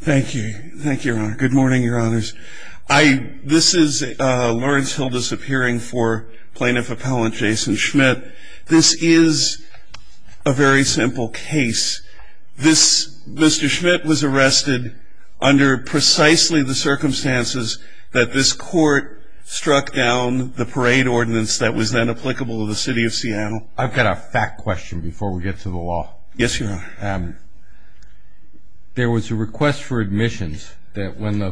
Thank you. Thank you, Your Honor. Good morning, Your Honors. This is Lawrence Hilda's appearing for Plaintiff Appellant Jason Schmidt. This is a very simple case. Mr. Schmidt was arrested under precisely the circumstances that this court struck down the parade ordinance that was then applicable to the City of Seattle. I've got a fact question before we get to the law. Yes, Your Honor. There was a request for admissions and one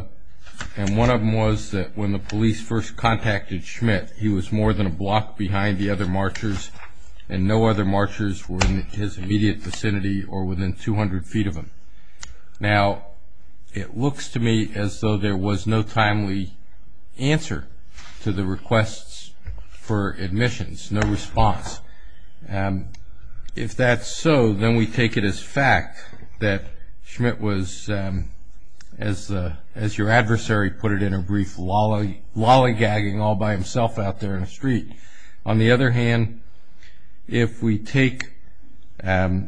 of them was that when the police first contacted Schmidt, he was more than a block behind the other marchers and no other marchers were in his immediate vicinity or within 200 feet of him. Now, it looks to me as though there was no timely answer to the requests for admissions, no response. If that's so, then we take it as fact that Schmidt was, as your adversary put it in a brief, lollygagging all by himself out there in the street. On the other hand, if we take the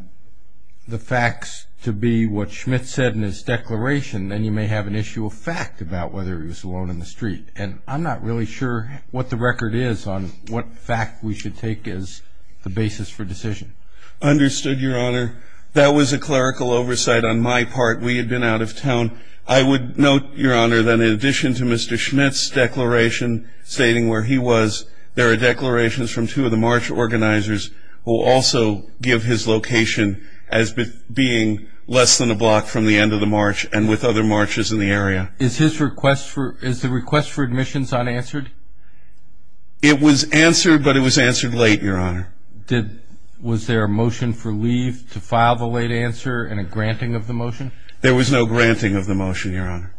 facts to be what Schmidt said in his declaration, then you may have an issue of fact about whether he was alone in the street. And I'm not really sure what the record is on what fact we should take as the basis for decision. Understood, Your Honor. That was a clerical oversight on my part. We had been out of town. I would note, Your Honor, that in addition to Mr. Schmidt's declaration stating where he was, there are declarations from two of the march organizers who also give his location as being less than a block from the end of the march and with other marchers in the area. Is the request for admissions unanswered? It was answered, but it was answered late, Your Honor. Was there a motion for leave to file the late answer and a granting of the motion? There was no granting of the motion, Your Honor.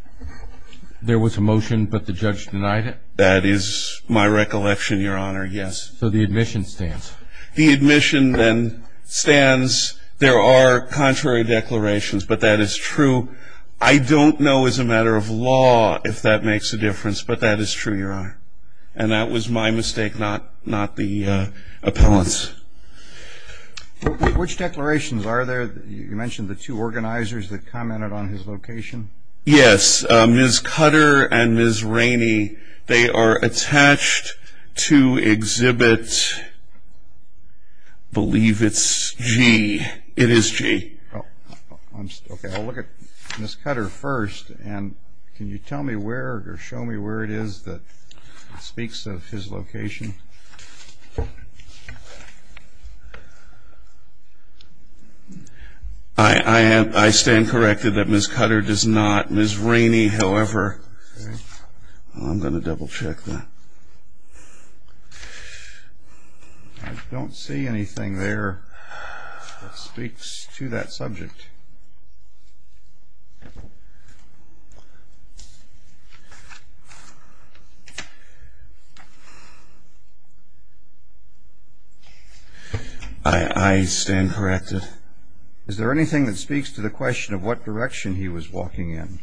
There was a motion, but the judge denied it? That is my recollection, Your Honor, yes. So the admission stands. The admission then stands. There are contrary declarations, but that is true. I don't know as a matter of law if that makes a difference, but that is true, Your Honor. And that was my mistake, not the appellant's. Which declarations are there? You mentioned the two organizers that commented on his location. Yes, Ms. Cutter and Ms. Rainey. They are attached to exhibit, I believe it's G. It is G. Okay, I'll look at Ms. Cutter first. And can you tell me where or show me where it is that speaks of his location? I stand corrected that Ms. Cutter does not. Ms. Rainey, however, I'm going to double check that. I don't see anything there that speaks to that subject. I stand corrected. Is there anything that speaks to the question of what direction he was walking in?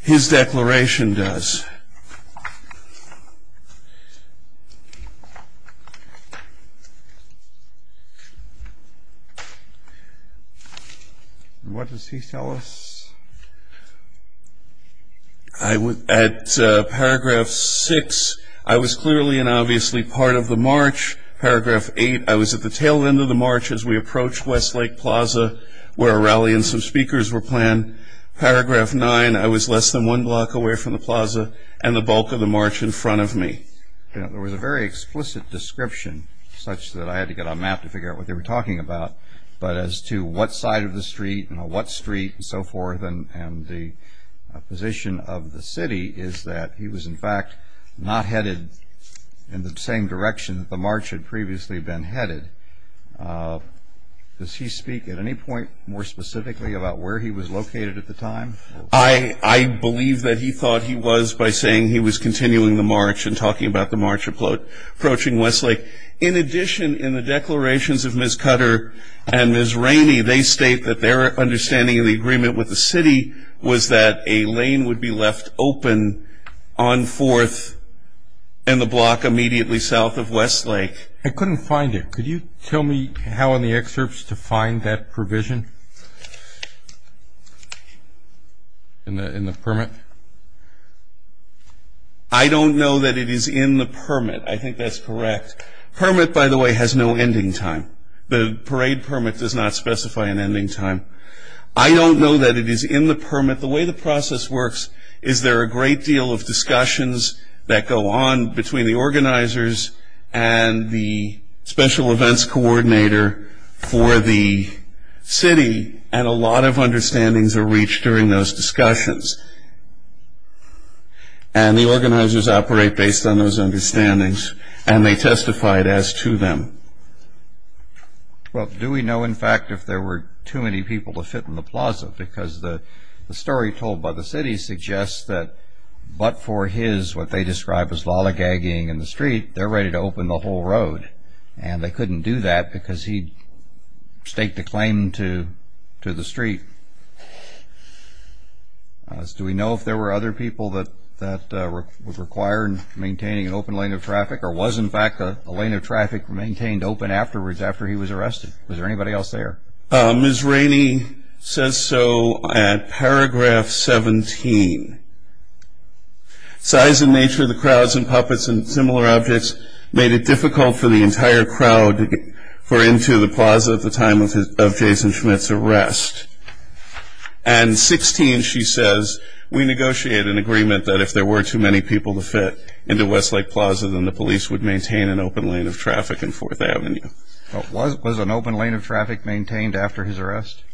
His declaration does. What does he tell us? At paragraph 6, I was clearly and obviously part of the march. Paragraph 8, I was at the tail end of the march as we approached Westlake Plaza, where a rally and some speakers were planned. Paragraph 9, I was less than one block away from the plaza and the bulk of the march in front of me. There was a very explicit description, such that I had to get on map to figure out what they were talking about, but as to what side of the street and on what street and so forth, and the position of the city is that he was, in fact, not headed in the same direction that the march had previously been headed. Does he speak at any point more specifically about where he was located at the time? I believe that he thought he was by saying he was continuing the march and talking about the march approaching Westlake. In addition, in the declarations of Ms. Cutter and Ms. Rainey, they state that their understanding of the agreement with the city was that a lane would be left open on 4th and the block immediately south of Westlake. I couldn't find it. Could you tell me how in the excerpts to find that provision in the permit? I don't know that it is in the permit. I think that's correct. Permit, by the way, has no ending time. The parade permit does not specify an ending time. I don't know that it is in the permit. The way the process works is there are a great deal of discussions that go on between the organizers and the special events coordinator for the city, and a lot of understandings are reached during those discussions. And the organizers operate based on those understandings, and they testify it as to them. Well, do we know, in fact, if there were too many people to fit in the plaza? Because the story told by the city suggests that but for his, what they describe as lolligagging in the street, they're ready to open the whole road, and they couldn't do that because he staked a claim to the street. Do we know if there were other people that were required in maintaining an open lane of traffic, or was, in fact, a lane of traffic maintained open afterwards after he was arrested? Was there anybody else there? Ms. Rainey says so at paragraph 17. Size and nature of the crowds and puppets and similar objects made it difficult for the entire crowd to get into the plaza at the time of Jason Schmidt's arrest. And 16, she says, we negotiated an agreement that if there were too many people to fit into Westlake Plaza, then the police would maintain an open lane of traffic in 4th Avenue. Was an open lane of traffic maintained after his arrest?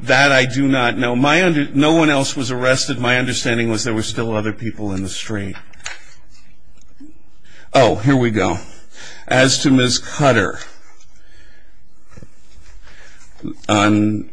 That I do not know. No one else was arrested. My understanding was there were still other people in the street. Oh, here we go. As to Ms. Cutter, on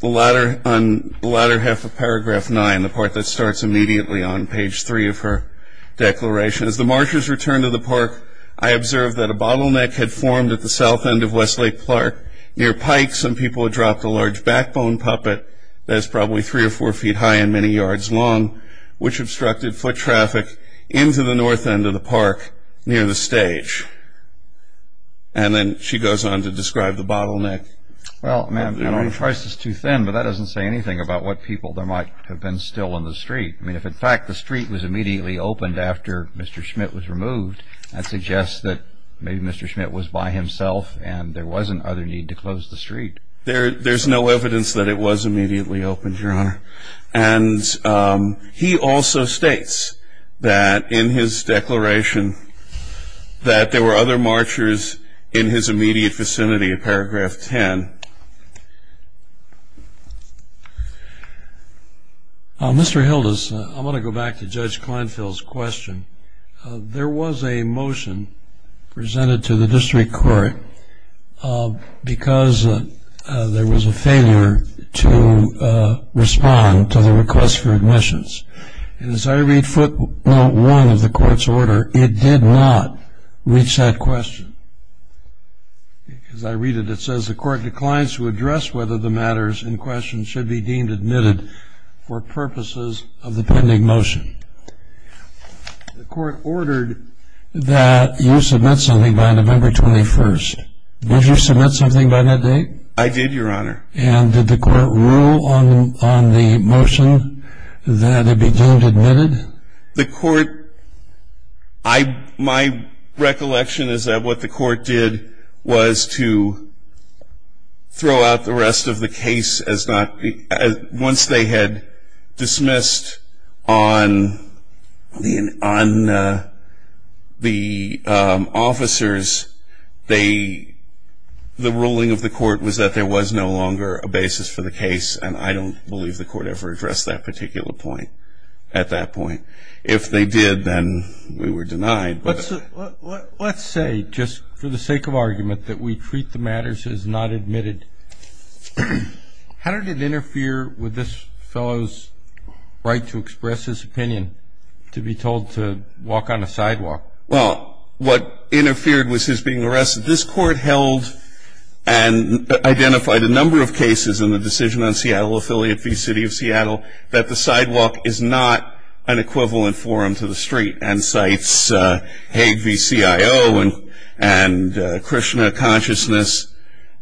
the latter half of paragraph 9, the part that starts immediately on page 3 of her declaration, as the marchers returned to the park, I observed that a bottleneck had formed at the south end of Westlake Park near Pike. Some people had dropped a large backbone puppet that is probably 3 or 4 feet high and many yards long, which obstructed foot traffic into the north end of the park near the stage. And then she goes on to describe the bottleneck. Well, ma'am, I don't want to price this too thin, but that doesn't say anything about what people there might have been still in the street. I mean, if in fact the street was immediately opened after Mr. Schmidt was removed, that suggests that maybe Mr. Schmidt was by himself and there wasn't other need to close the street. There's no evidence that it was immediately opened, Your Honor. And he also states that in his declaration that there were other marchers in his immediate vicinity in paragraph 10. Thank you. Mr. Hildes, I want to go back to Judge Kleinfeld's question. There was a motion presented to the district court because there was a failure to respond to the request for admissions. And as I read footnote 1 of the court's order, it did not reach that question. As I read it, it says the court declines to address whether the matters in question should be deemed admitted for purposes of the pending motion. The court ordered that you submit something by November 21st. Did you submit something by that date? I did, Your Honor. And did the court rule on the motion that it be deemed admitted? The court, my recollection is that what the court did was to throw out the rest of the case as not, once they had dismissed on the officers, the ruling of the court was that there was no longer a basis for the case, and I don't believe the court ever addressed that particular point at that point. If they did, then we were denied. Let's say, just for the sake of argument, that we treat the matters as not admitted. How did it interfere with this fellow's right to express his opinion, to be told to walk on the sidewalk? Well, what interfered was his being arrested. This court held and identified a number of cases in the decision on Seattle Affiliate v. City of Seattle that the sidewalk is not an equivalent forum to the street, and cites Hague v. CIO and Krishna Consciousness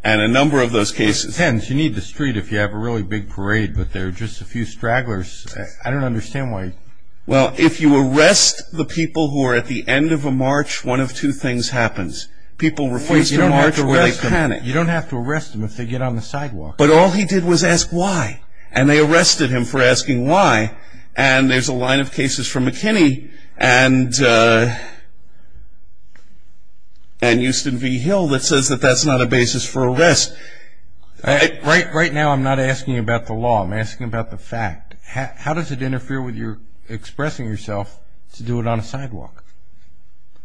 and a number of those cases. You need the street if you have a really big parade, but there are just a few stragglers. I don't understand why. Well, if you arrest the people who are at the end of a march, one of two things happens. People refuse to march or they panic. You don't have to arrest them if they get on the sidewalk. But all he did was ask why, and they arrested him for asking why, and there's a line of cases from McKinney and Houston v. Hill that says that that's not a basis for arrest. Right now, I'm not asking about the law. I'm asking about the fact. How does it interfere with your expressing yourself to do it on a sidewalk?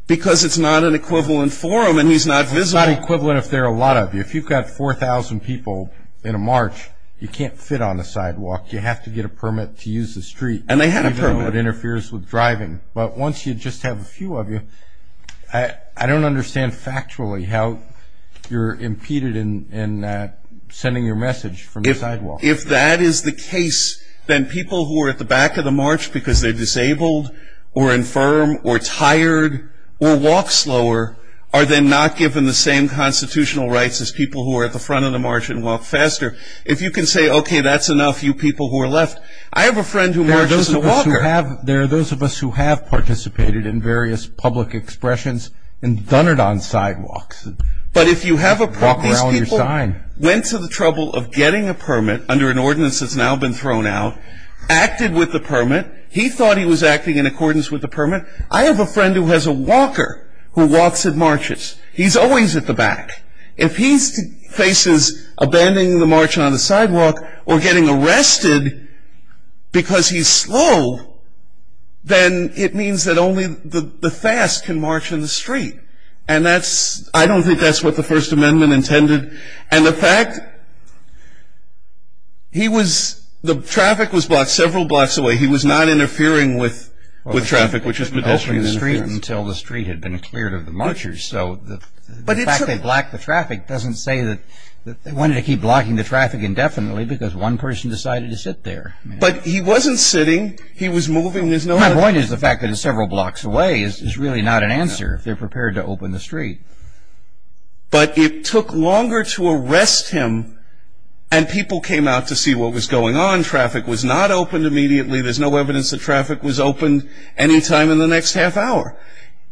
Because it's not an equivalent forum and he's not visible. It's not equivalent if there are a lot of you. If you've got 4,000 people in a march, you can't fit on the sidewalk. You have to get a permit to use the street. And they had a permit. Even if it interferes with driving. But once you just have a few of you, I don't understand factually how you're impeded in sending your message from the sidewalk. If that is the case, then people who are at the back of the march because they're disabled or infirm or tired or walk slower are then not given the same constitutional rights as people who are at the front of the march and walk faster. If you can say, okay, that's enough, you people who are left. I have a friend who marches as a walker. There are those of us who have participated in various public expressions and done it on sidewalks. But if you have a permit, these people went to the trouble of getting a permit under an ordinance that's now been thrown out, acted with the permit. He thought he was acting in accordance with the permit. I have a friend who has a walker who walks and marches. He's always at the back. If he faces abandoning the march on the sidewalk or getting arrested because he's slow, then it means that only the fast can march in the street. And I don't think that's what the First Amendment intended. And the fact, he was, the traffic was blocked several blocks away. He was not interfering with traffic, which is potentially an interference. Until the street had been cleared of the marchers. So the fact they blocked the traffic doesn't say that they wanted to keep blocking the traffic indefinitely because one person decided to sit there. But he wasn't sitting. He was moving. My point is the fact that it's several blocks away is really not an answer. They're prepared to open the street. But it took longer to arrest him and people came out to see what was going on. Traffic was not opened immediately. There's no evidence that traffic was opened any time in the next half hour.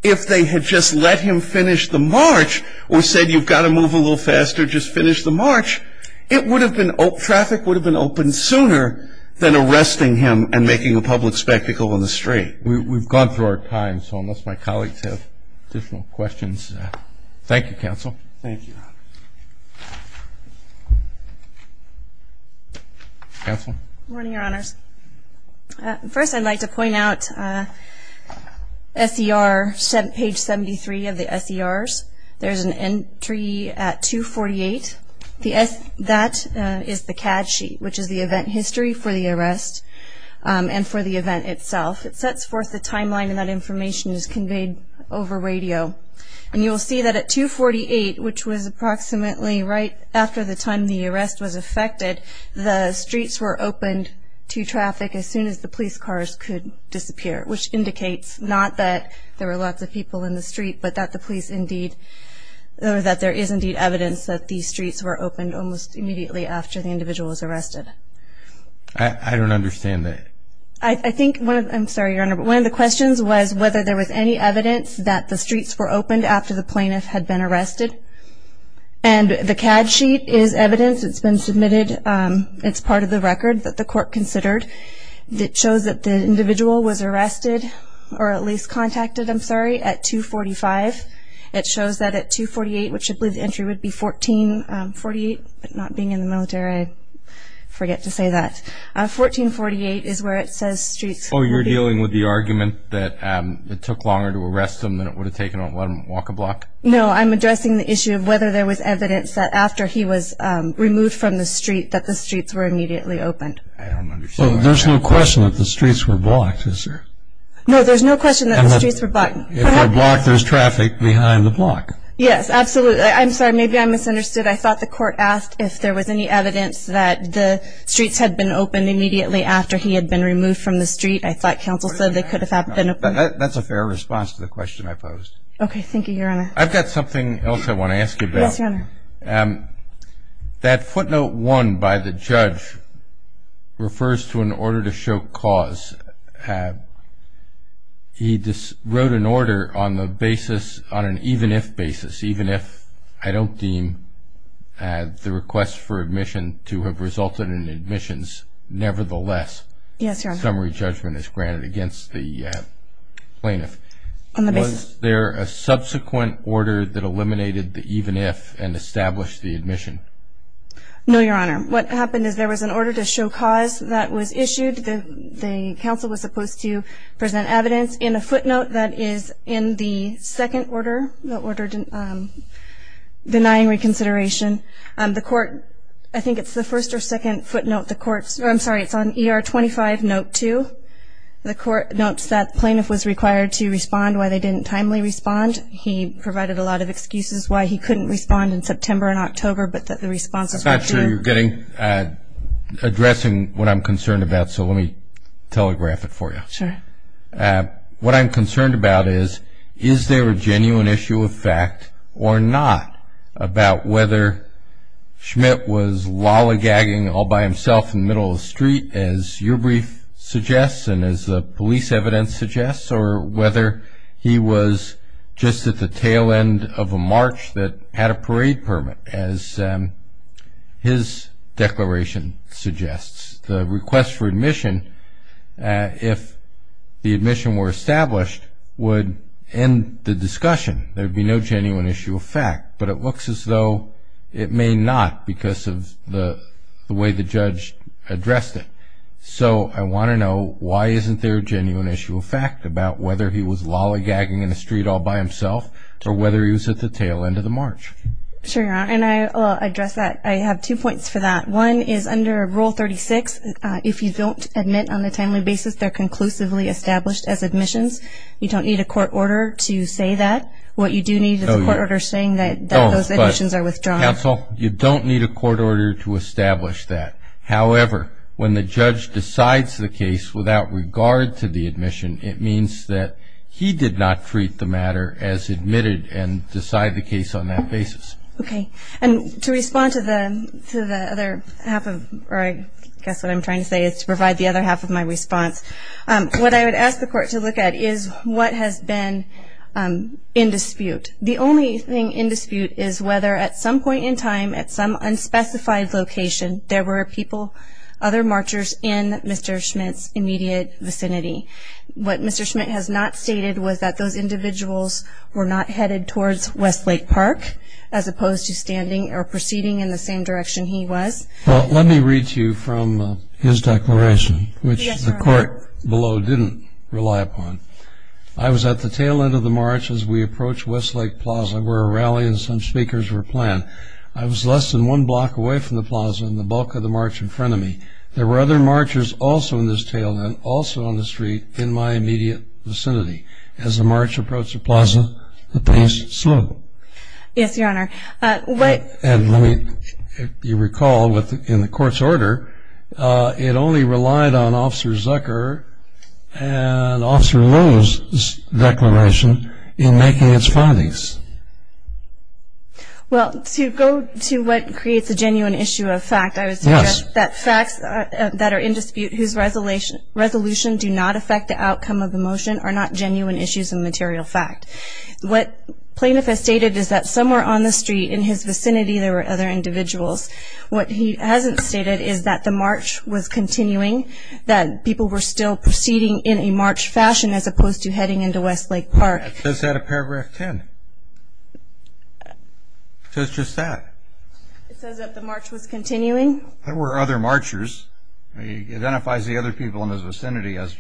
If they had just let him finish the march or said you've got to move a little faster, just finish the march, it would have been, traffic would have been opened sooner than arresting him and making a public spectacle in the street. We've gone through our time, so unless my colleagues have additional questions. Thank you, Counsel. Thank you. Counsel. Good morning, Your Honors. First I'd like to point out SER, page 73 of the SERs. There's an entry at 248. That is the CAD sheet, which is the event history for the arrest and for the event itself. It sets forth the timeline and that information is conveyed over radio. And you will see that at 248, which was approximately right after the time the arrest was affected, the streets were opened to traffic as soon as the police cars could disappear, which indicates not that there were lots of people in the street, but that the police indeed, or that there is indeed evidence that these streets were opened almost immediately after the individual was arrested. I don't understand that. I think one of the questions was whether there was any evidence that the streets were opened after the plaintiff had been arrested. And the CAD sheet is evidence that's been submitted. It's part of the record that the court considered. It shows that the individual was arrested, or at least contacted, I'm sorry, at 245. It shows that at 248, which I believe the entry would be 1448, but not being in the military, I forget to say that. 1448 is where it says streets were opened. Oh, you're dealing with the argument that it took longer to arrest him than it would have taken to let him walk a block? No, I'm addressing the issue of whether there was evidence that after he was removed from the street that the streets were immediately opened. I don't understand. Well, there's no question that the streets were blocked, is there? No, there's no question that the streets were blocked. If they're blocked, there's traffic behind the block. Yes, absolutely. I'm sorry, maybe I misunderstood. I thought the court asked if there was any evidence that the streets had been opened immediately after he had been removed from the street. I thought counsel said they could have been opened. That's a fair response to the question I posed. Okay, thank you, Your Honor. I've got something else I want to ask you about. Yes, Your Honor. That footnote 1 by the judge refers to an order to show cause. He wrote an order on an even-if basis, even if I don't deem the request for admission to have resulted in admissions nevertheless. Yes, Your Honor. Summary judgment is granted against the plaintiff. Was there a subsequent order that eliminated the even-if and established the admission? No, Your Honor. What happened is there was an order to show cause that was issued. The counsel was supposed to present evidence in a footnote that is in the second order, the order denying reconsideration. The court, I think it's the first or second footnote the court, I'm sorry, it's on ER 25 note 2. The court notes that the plaintiff was required to respond why they didn't timely respond. He provided a lot of excuses why he couldn't respond in September and October, but that the responses were due. I'm not sure you're getting addressing what I'm concerned about, so let me telegraph it for you. Sure. What I'm concerned about is, is there a genuine issue of fact or not about whether Schmidt was lollygagging all by himself in the middle of the street, as your brief suggests and as the police evidence suggests, or whether he was just at the tail end of a march that had a parade permit, as his declaration suggests. The request for admission, if the admission were established, would end the discussion. There would be no genuine issue of fact, but it looks as though it may not because of the way the judge addressed it. So I want to know, why isn't there a genuine issue of fact about whether he was lollygagging in the street all by himself or whether he was at the tail end of the march? Sure, and I'll address that. I have two points for that. One is under Rule 36, if you don't admit on a timely basis, they're conclusively established as admissions. You don't need a court order to say that. What you do need is a court order saying that those admissions are withdrawn. Counsel, you don't need a court order to establish that. However, when the judge decides the case without regard to the admission, it means that he did not treat the matter as admitted and decide the case on that basis. Okay. And to respond to the other half of, or I guess what I'm trying to say is to provide the other half of my response, what I would ask the court to look at is what has been in dispute. The only thing in dispute is whether at some point in time, at some unspecified location, there were people, other marchers in Mr. Schmidt's immediate vicinity. What Mr. Schmidt has not stated was that those individuals were not headed towards Westlake Park as opposed to standing or proceeding in the same direction he was. Well, let me read to you from his declaration, which the court below didn't rely upon. I was at the tail end of the march as we approached Westlake Plaza where a rally and some speakers were playing. I was less than one block away from the plaza and the bulk of the march in front of me. There were other marchers also in this tail end, also on the street, in my immediate vicinity. As the march approached the plaza, the pace slowed. Yes, Your Honor. And let me, if you recall, in the court's order, it only relied on Officer Zucker and Officer Lowe's declaration in making its findings. Well, to go to what creates a genuine issue of fact, I would suggest that facts that are in dispute, whose resolution do not affect the outcome of the motion, are not genuine issues of material fact. What Plaintiff has stated is that somewhere on the street in his vicinity there were other individuals. What he hasn't stated is that the march was continuing, that people were still proceeding in a march fashion as opposed to heading into Westlake Park. It says that in paragraph 10. It says just that. It says that the march was continuing. There were other marchers. He identifies the other people in his vicinity as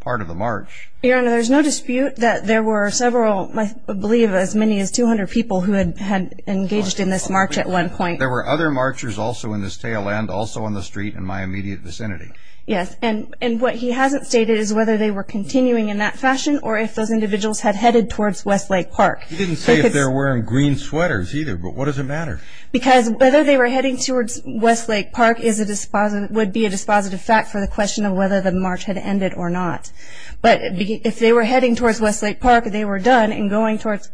part of the march. Your Honor, there's no dispute that there were several, I believe as many as 200 people who had engaged in this march at one point. There were other marchers also in this tail end, also on the street, in my immediate vicinity. Yes, and what he hasn't stated is whether they were continuing in that fashion or if those individuals had headed towards Westlake Park. He didn't say if they were wearing green sweaters either, but what does it matter? Because whether they were heading towards Westlake Park would be a dispositive fact for the question of whether the march had ended or not. But if they were heading towards Westlake Park and they were done and going towards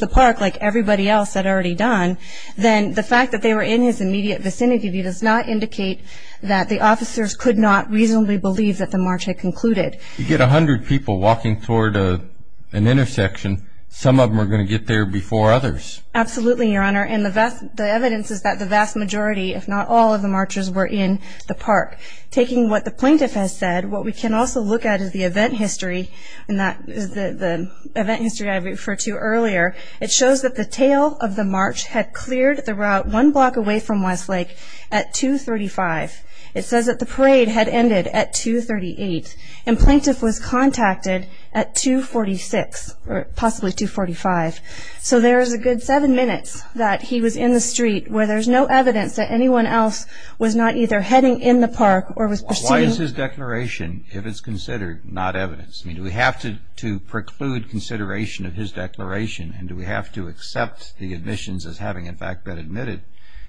the park like everybody else had already done, then the fact that they were in his immediate vicinity does not indicate that the officers could not reasonably believe that the march had concluded. You get 100 people walking toward an intersection, some of them are going to get there before others. Absolutely, Your Honor, and the evidence is that the vast majority, if not all of the marchers, were in the park. Taking what the plaintiff has said, what we can also look at is the event history, and that is the event history I referred to earlier. It shows that the tail of the march had cleared the route one block away from Westlake at 235. It says that the parade had ended at 238. And plaintiff was contacted at 246, or possibly 245. So there is a good seven minutes that he was in the street where there's no evidence that anyone else was not either heading in the park or was pursuing. Why is his declaration, if it's considered, not evidence? Do we have to preclude consideration of his declaration, and do we have to accept the admissions as having in fact been admitted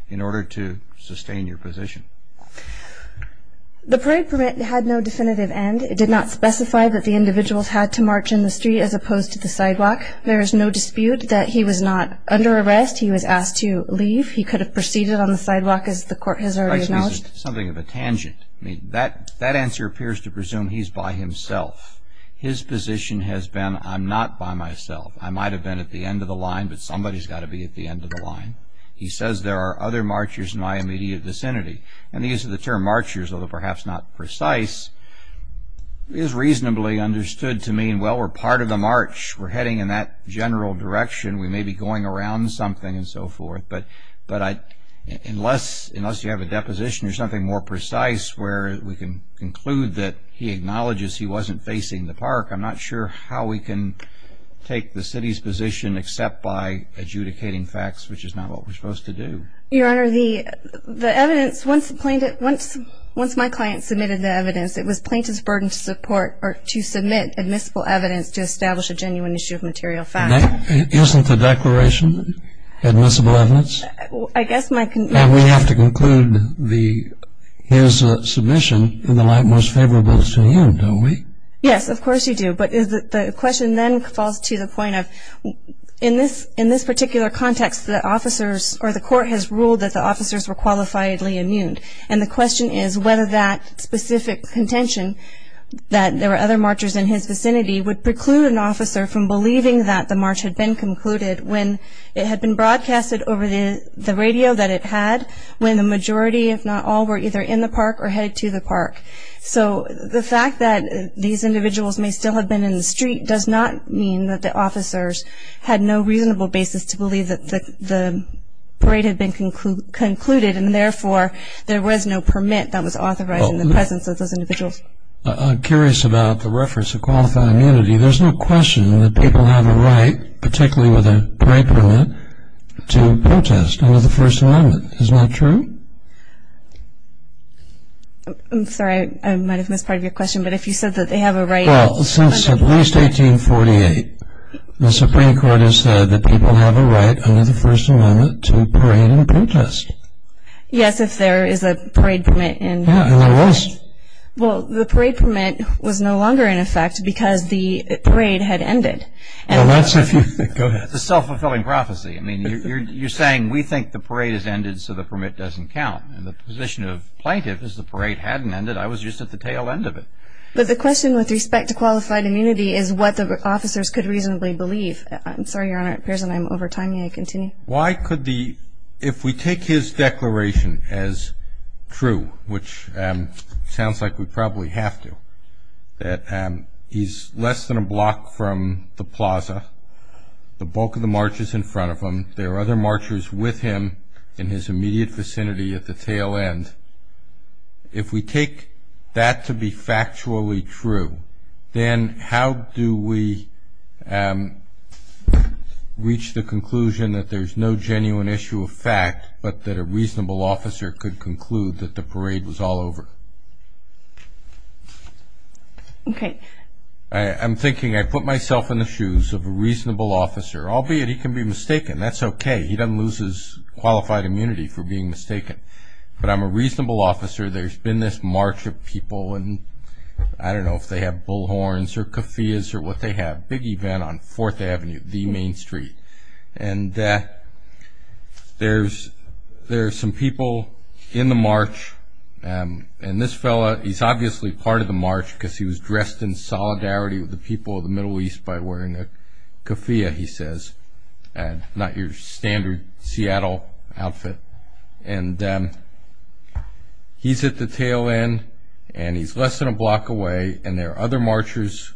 in order to sustain your position? The parade permit had no definitive end. It did not specify that the individuals had to march in the street as opposed to the sidewalk. There is no dispute that he was not under arrest. He was asked to leave. He could have proceeded on the sidewalk, as the court has already acknowledged. Something of a tangent. I mean, that answer appears to presume he's by himself. His position has been, I'm not by myself. I might have been at the end of the line, but somebody's got to be at the end of the line. He says there are other marchers in my immediate vicinity. And the use of the term marchers, although perhaps not precise, is reasonably understood to mean, well, we're part of the march. We're heading in that general direction. We may be going around something and so forth. But unless you have a deposition or something more precise where we can conclude that he acknowledges he wasn't facing the park, I'm not sure how we can take the city's position except by adjudicating facts, which is not what we're supposed to do. Your Honor, the evidence, once my client submitted the evidence, it was plaintiff's burden to support or to submit admissible evidence to establish a genuine issue of material fact. Isn't the declaration admissible evidence? I guess my concern is... And we have to conclude his submission in the light most favorable to you, don't we? Yes, of course you do. But the question then falls to the point of, in this particular context, the officers or the court has ruled that the officers were qualifiably immune. And the question is whether that specific contention, that there were other marchers in his vicinity, would preclude an officer from believing that the march had been concluded when it had been broadcasted over the radio that it had, when the majority, if not all, were either in the park or headed to the park. So the fact that these individuals may still have been in the street does not mean that the officers had no reasonable basis to believe that the parade had been concluded, and therefore there was no permit that was authorized in the presence of those individuals. I'm curious about the reference to qualified immunity. There's no question that people have a right, particularly with a parade permit, to protest under the First Amendment. Is that true? I'm sorry, I might have missed part of your question. But if you said that they have a right... Well, since at least 1848, the Supreme Court has said that people have a right under the First Amendment to parade and protest. Yes, if there is a parade permit in effect. Yeah, and there was. Well, the parade permit was no longer in effect because the parade had ended. Well, that's if you... Go ahead. It's a self-fulfilling prophecy. I mean, you're saying we think the parade has ended so the permit doesn't count. And the position of plaintiff is the parade hadn't ended. I was just at the tail end of it. But the question with respect to qualified immunity is what the officers could reasonably believe. I'm sorry, Your Honor, it appears that I'm overtiming. May I continue? If we take his declaration as true, which sounds like we probably have to, that he's less than a block from the plaza, the bulk of the march is in front of him, there are other marchers with him in his immediate vicinity at the tail end, if we take that to be factually true, then how do we reach the conclusion that there's no genuine issue of fact but that a reasonable officer could conclude that the parade was all over? Okay. I'm thinking I put myself in the shoes of a reasonable officer, albeit he can be mistaken. That's okay. He doesn't lose his qualified immunity for being mistaken. But I'm a reasonable officer. There's been this march of people, and I don't know if they have bullhorns or keffiyehs or what they have, a big event on 4th Avenue, the main street. And there are some people in the march, and this fellow, he's obviously part of the march because he was dressed in solidarity with the people of the Middle East by wearing a keffiyeh, he says, not your standard Seattle outfit. And he's at the tail end, and he's less than a block away, and there are other marchers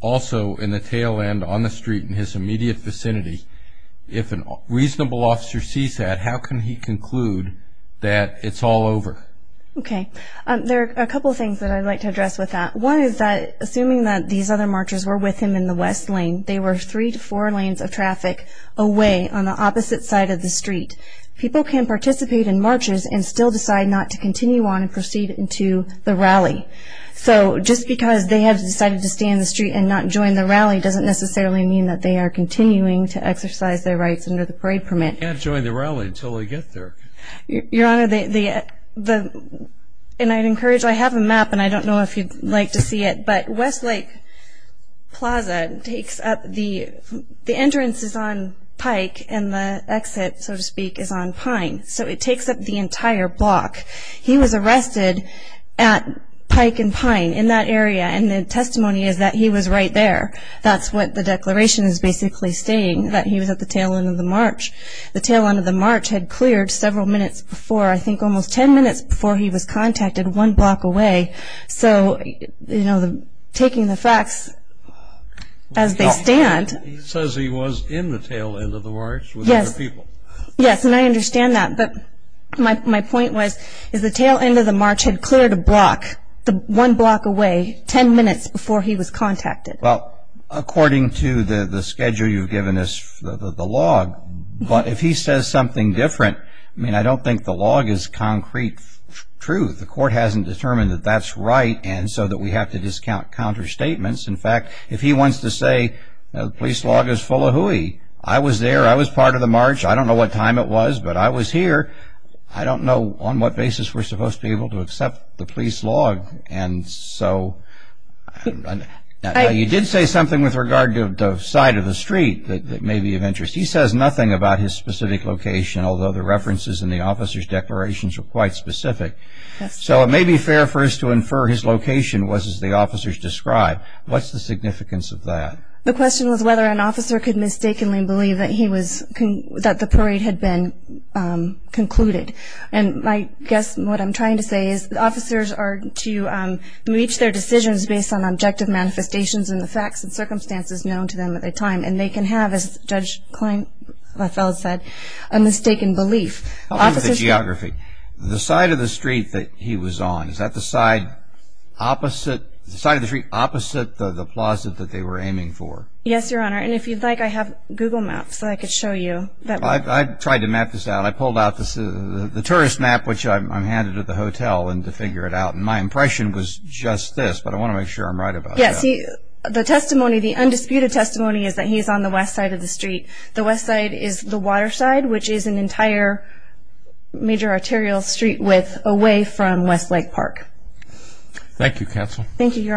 also in the tail end on the street in his immediate vicinity. If a reasonable officer sees that, how can he conclude that it's all over? Okay. There are a couple of things that I'd like to address with that. One is that assuming that these other marchers were with him in the West Lane, they were three to four lanes of traffic away on the opposite side of the street. People can participate in marches and still decide not to continue on and proceed into the rally. So just because they have decided to stay in the street and not join the rally doesn't necessarily mean that they are continuing to exercise their rights under the parade permit. They can't join the rally until they get there. Your Honor, and I'd encourage you, I have a map, and I don't know if you'd like to see it, but West Lake Plaza takes up the entrance is on Pike and the exit, so to speak, is on Pine. So it takes up the entire block. He was arrested at Pike and Pine in that area, and the testimony is that he was right there. That's what the declaration is basically saying, that he was at the tail end of the march. The tail end of the march had cleared several minutes before, I think almost ten minutes before he was contacted one block away. So, you know, taking the facts as they stand. He says he was in the tail end of the march with other people. Yes, and I understand that, but my point was, is the tail end of the march had cleared a block, one block away, ten minutes before he was contacted. Well, according to the schedule you've given us, the log, but if he says something different, I mean, I don't think the log is concrete truth. The court hasn't determined that that's right, and so that we have to discount counter statements. In fact, if he wants to say the police log is full of hooey. I was there. I was part of the march. I don't know what time it was, but I was here. I don't know on what basis we're supposed to be able to accept the police log. And so you did say something with regard to the side of the street that may be of interest. He says nothing about his specific location, although the references in the officer's declarations are quite specific. So it may be fair for us to infer his location was, as the officers described. What's the significance of that? The question was whether an officer could mistakenly believe that the parade had been concluded. And I guess what I'm trying to say is the officers are to reach their decisions based on objective manifestations and the facts and circumstances known to them at the time, and they can have, as Judge Kleinfeld said, a mistaken belief. I'll leave the geography. The side of the street that he was on, is that the side opposite the plaza that they were aiming for? Yes, Your Honor. And if you'd like, I have Google Maps so I could show you. I tried to map this out. I pulled out the tourist map, which I'm handed at the hotel, and to figure it out. And my impression was just this, but I want to make sure I'm right about that. Yes. The undisputed testimony is that he's on the west side of the street. The west side is the water side, which is an entire major arterial street width away from Westlake Park. Thank you, Counsel. Thank you, Your Honor.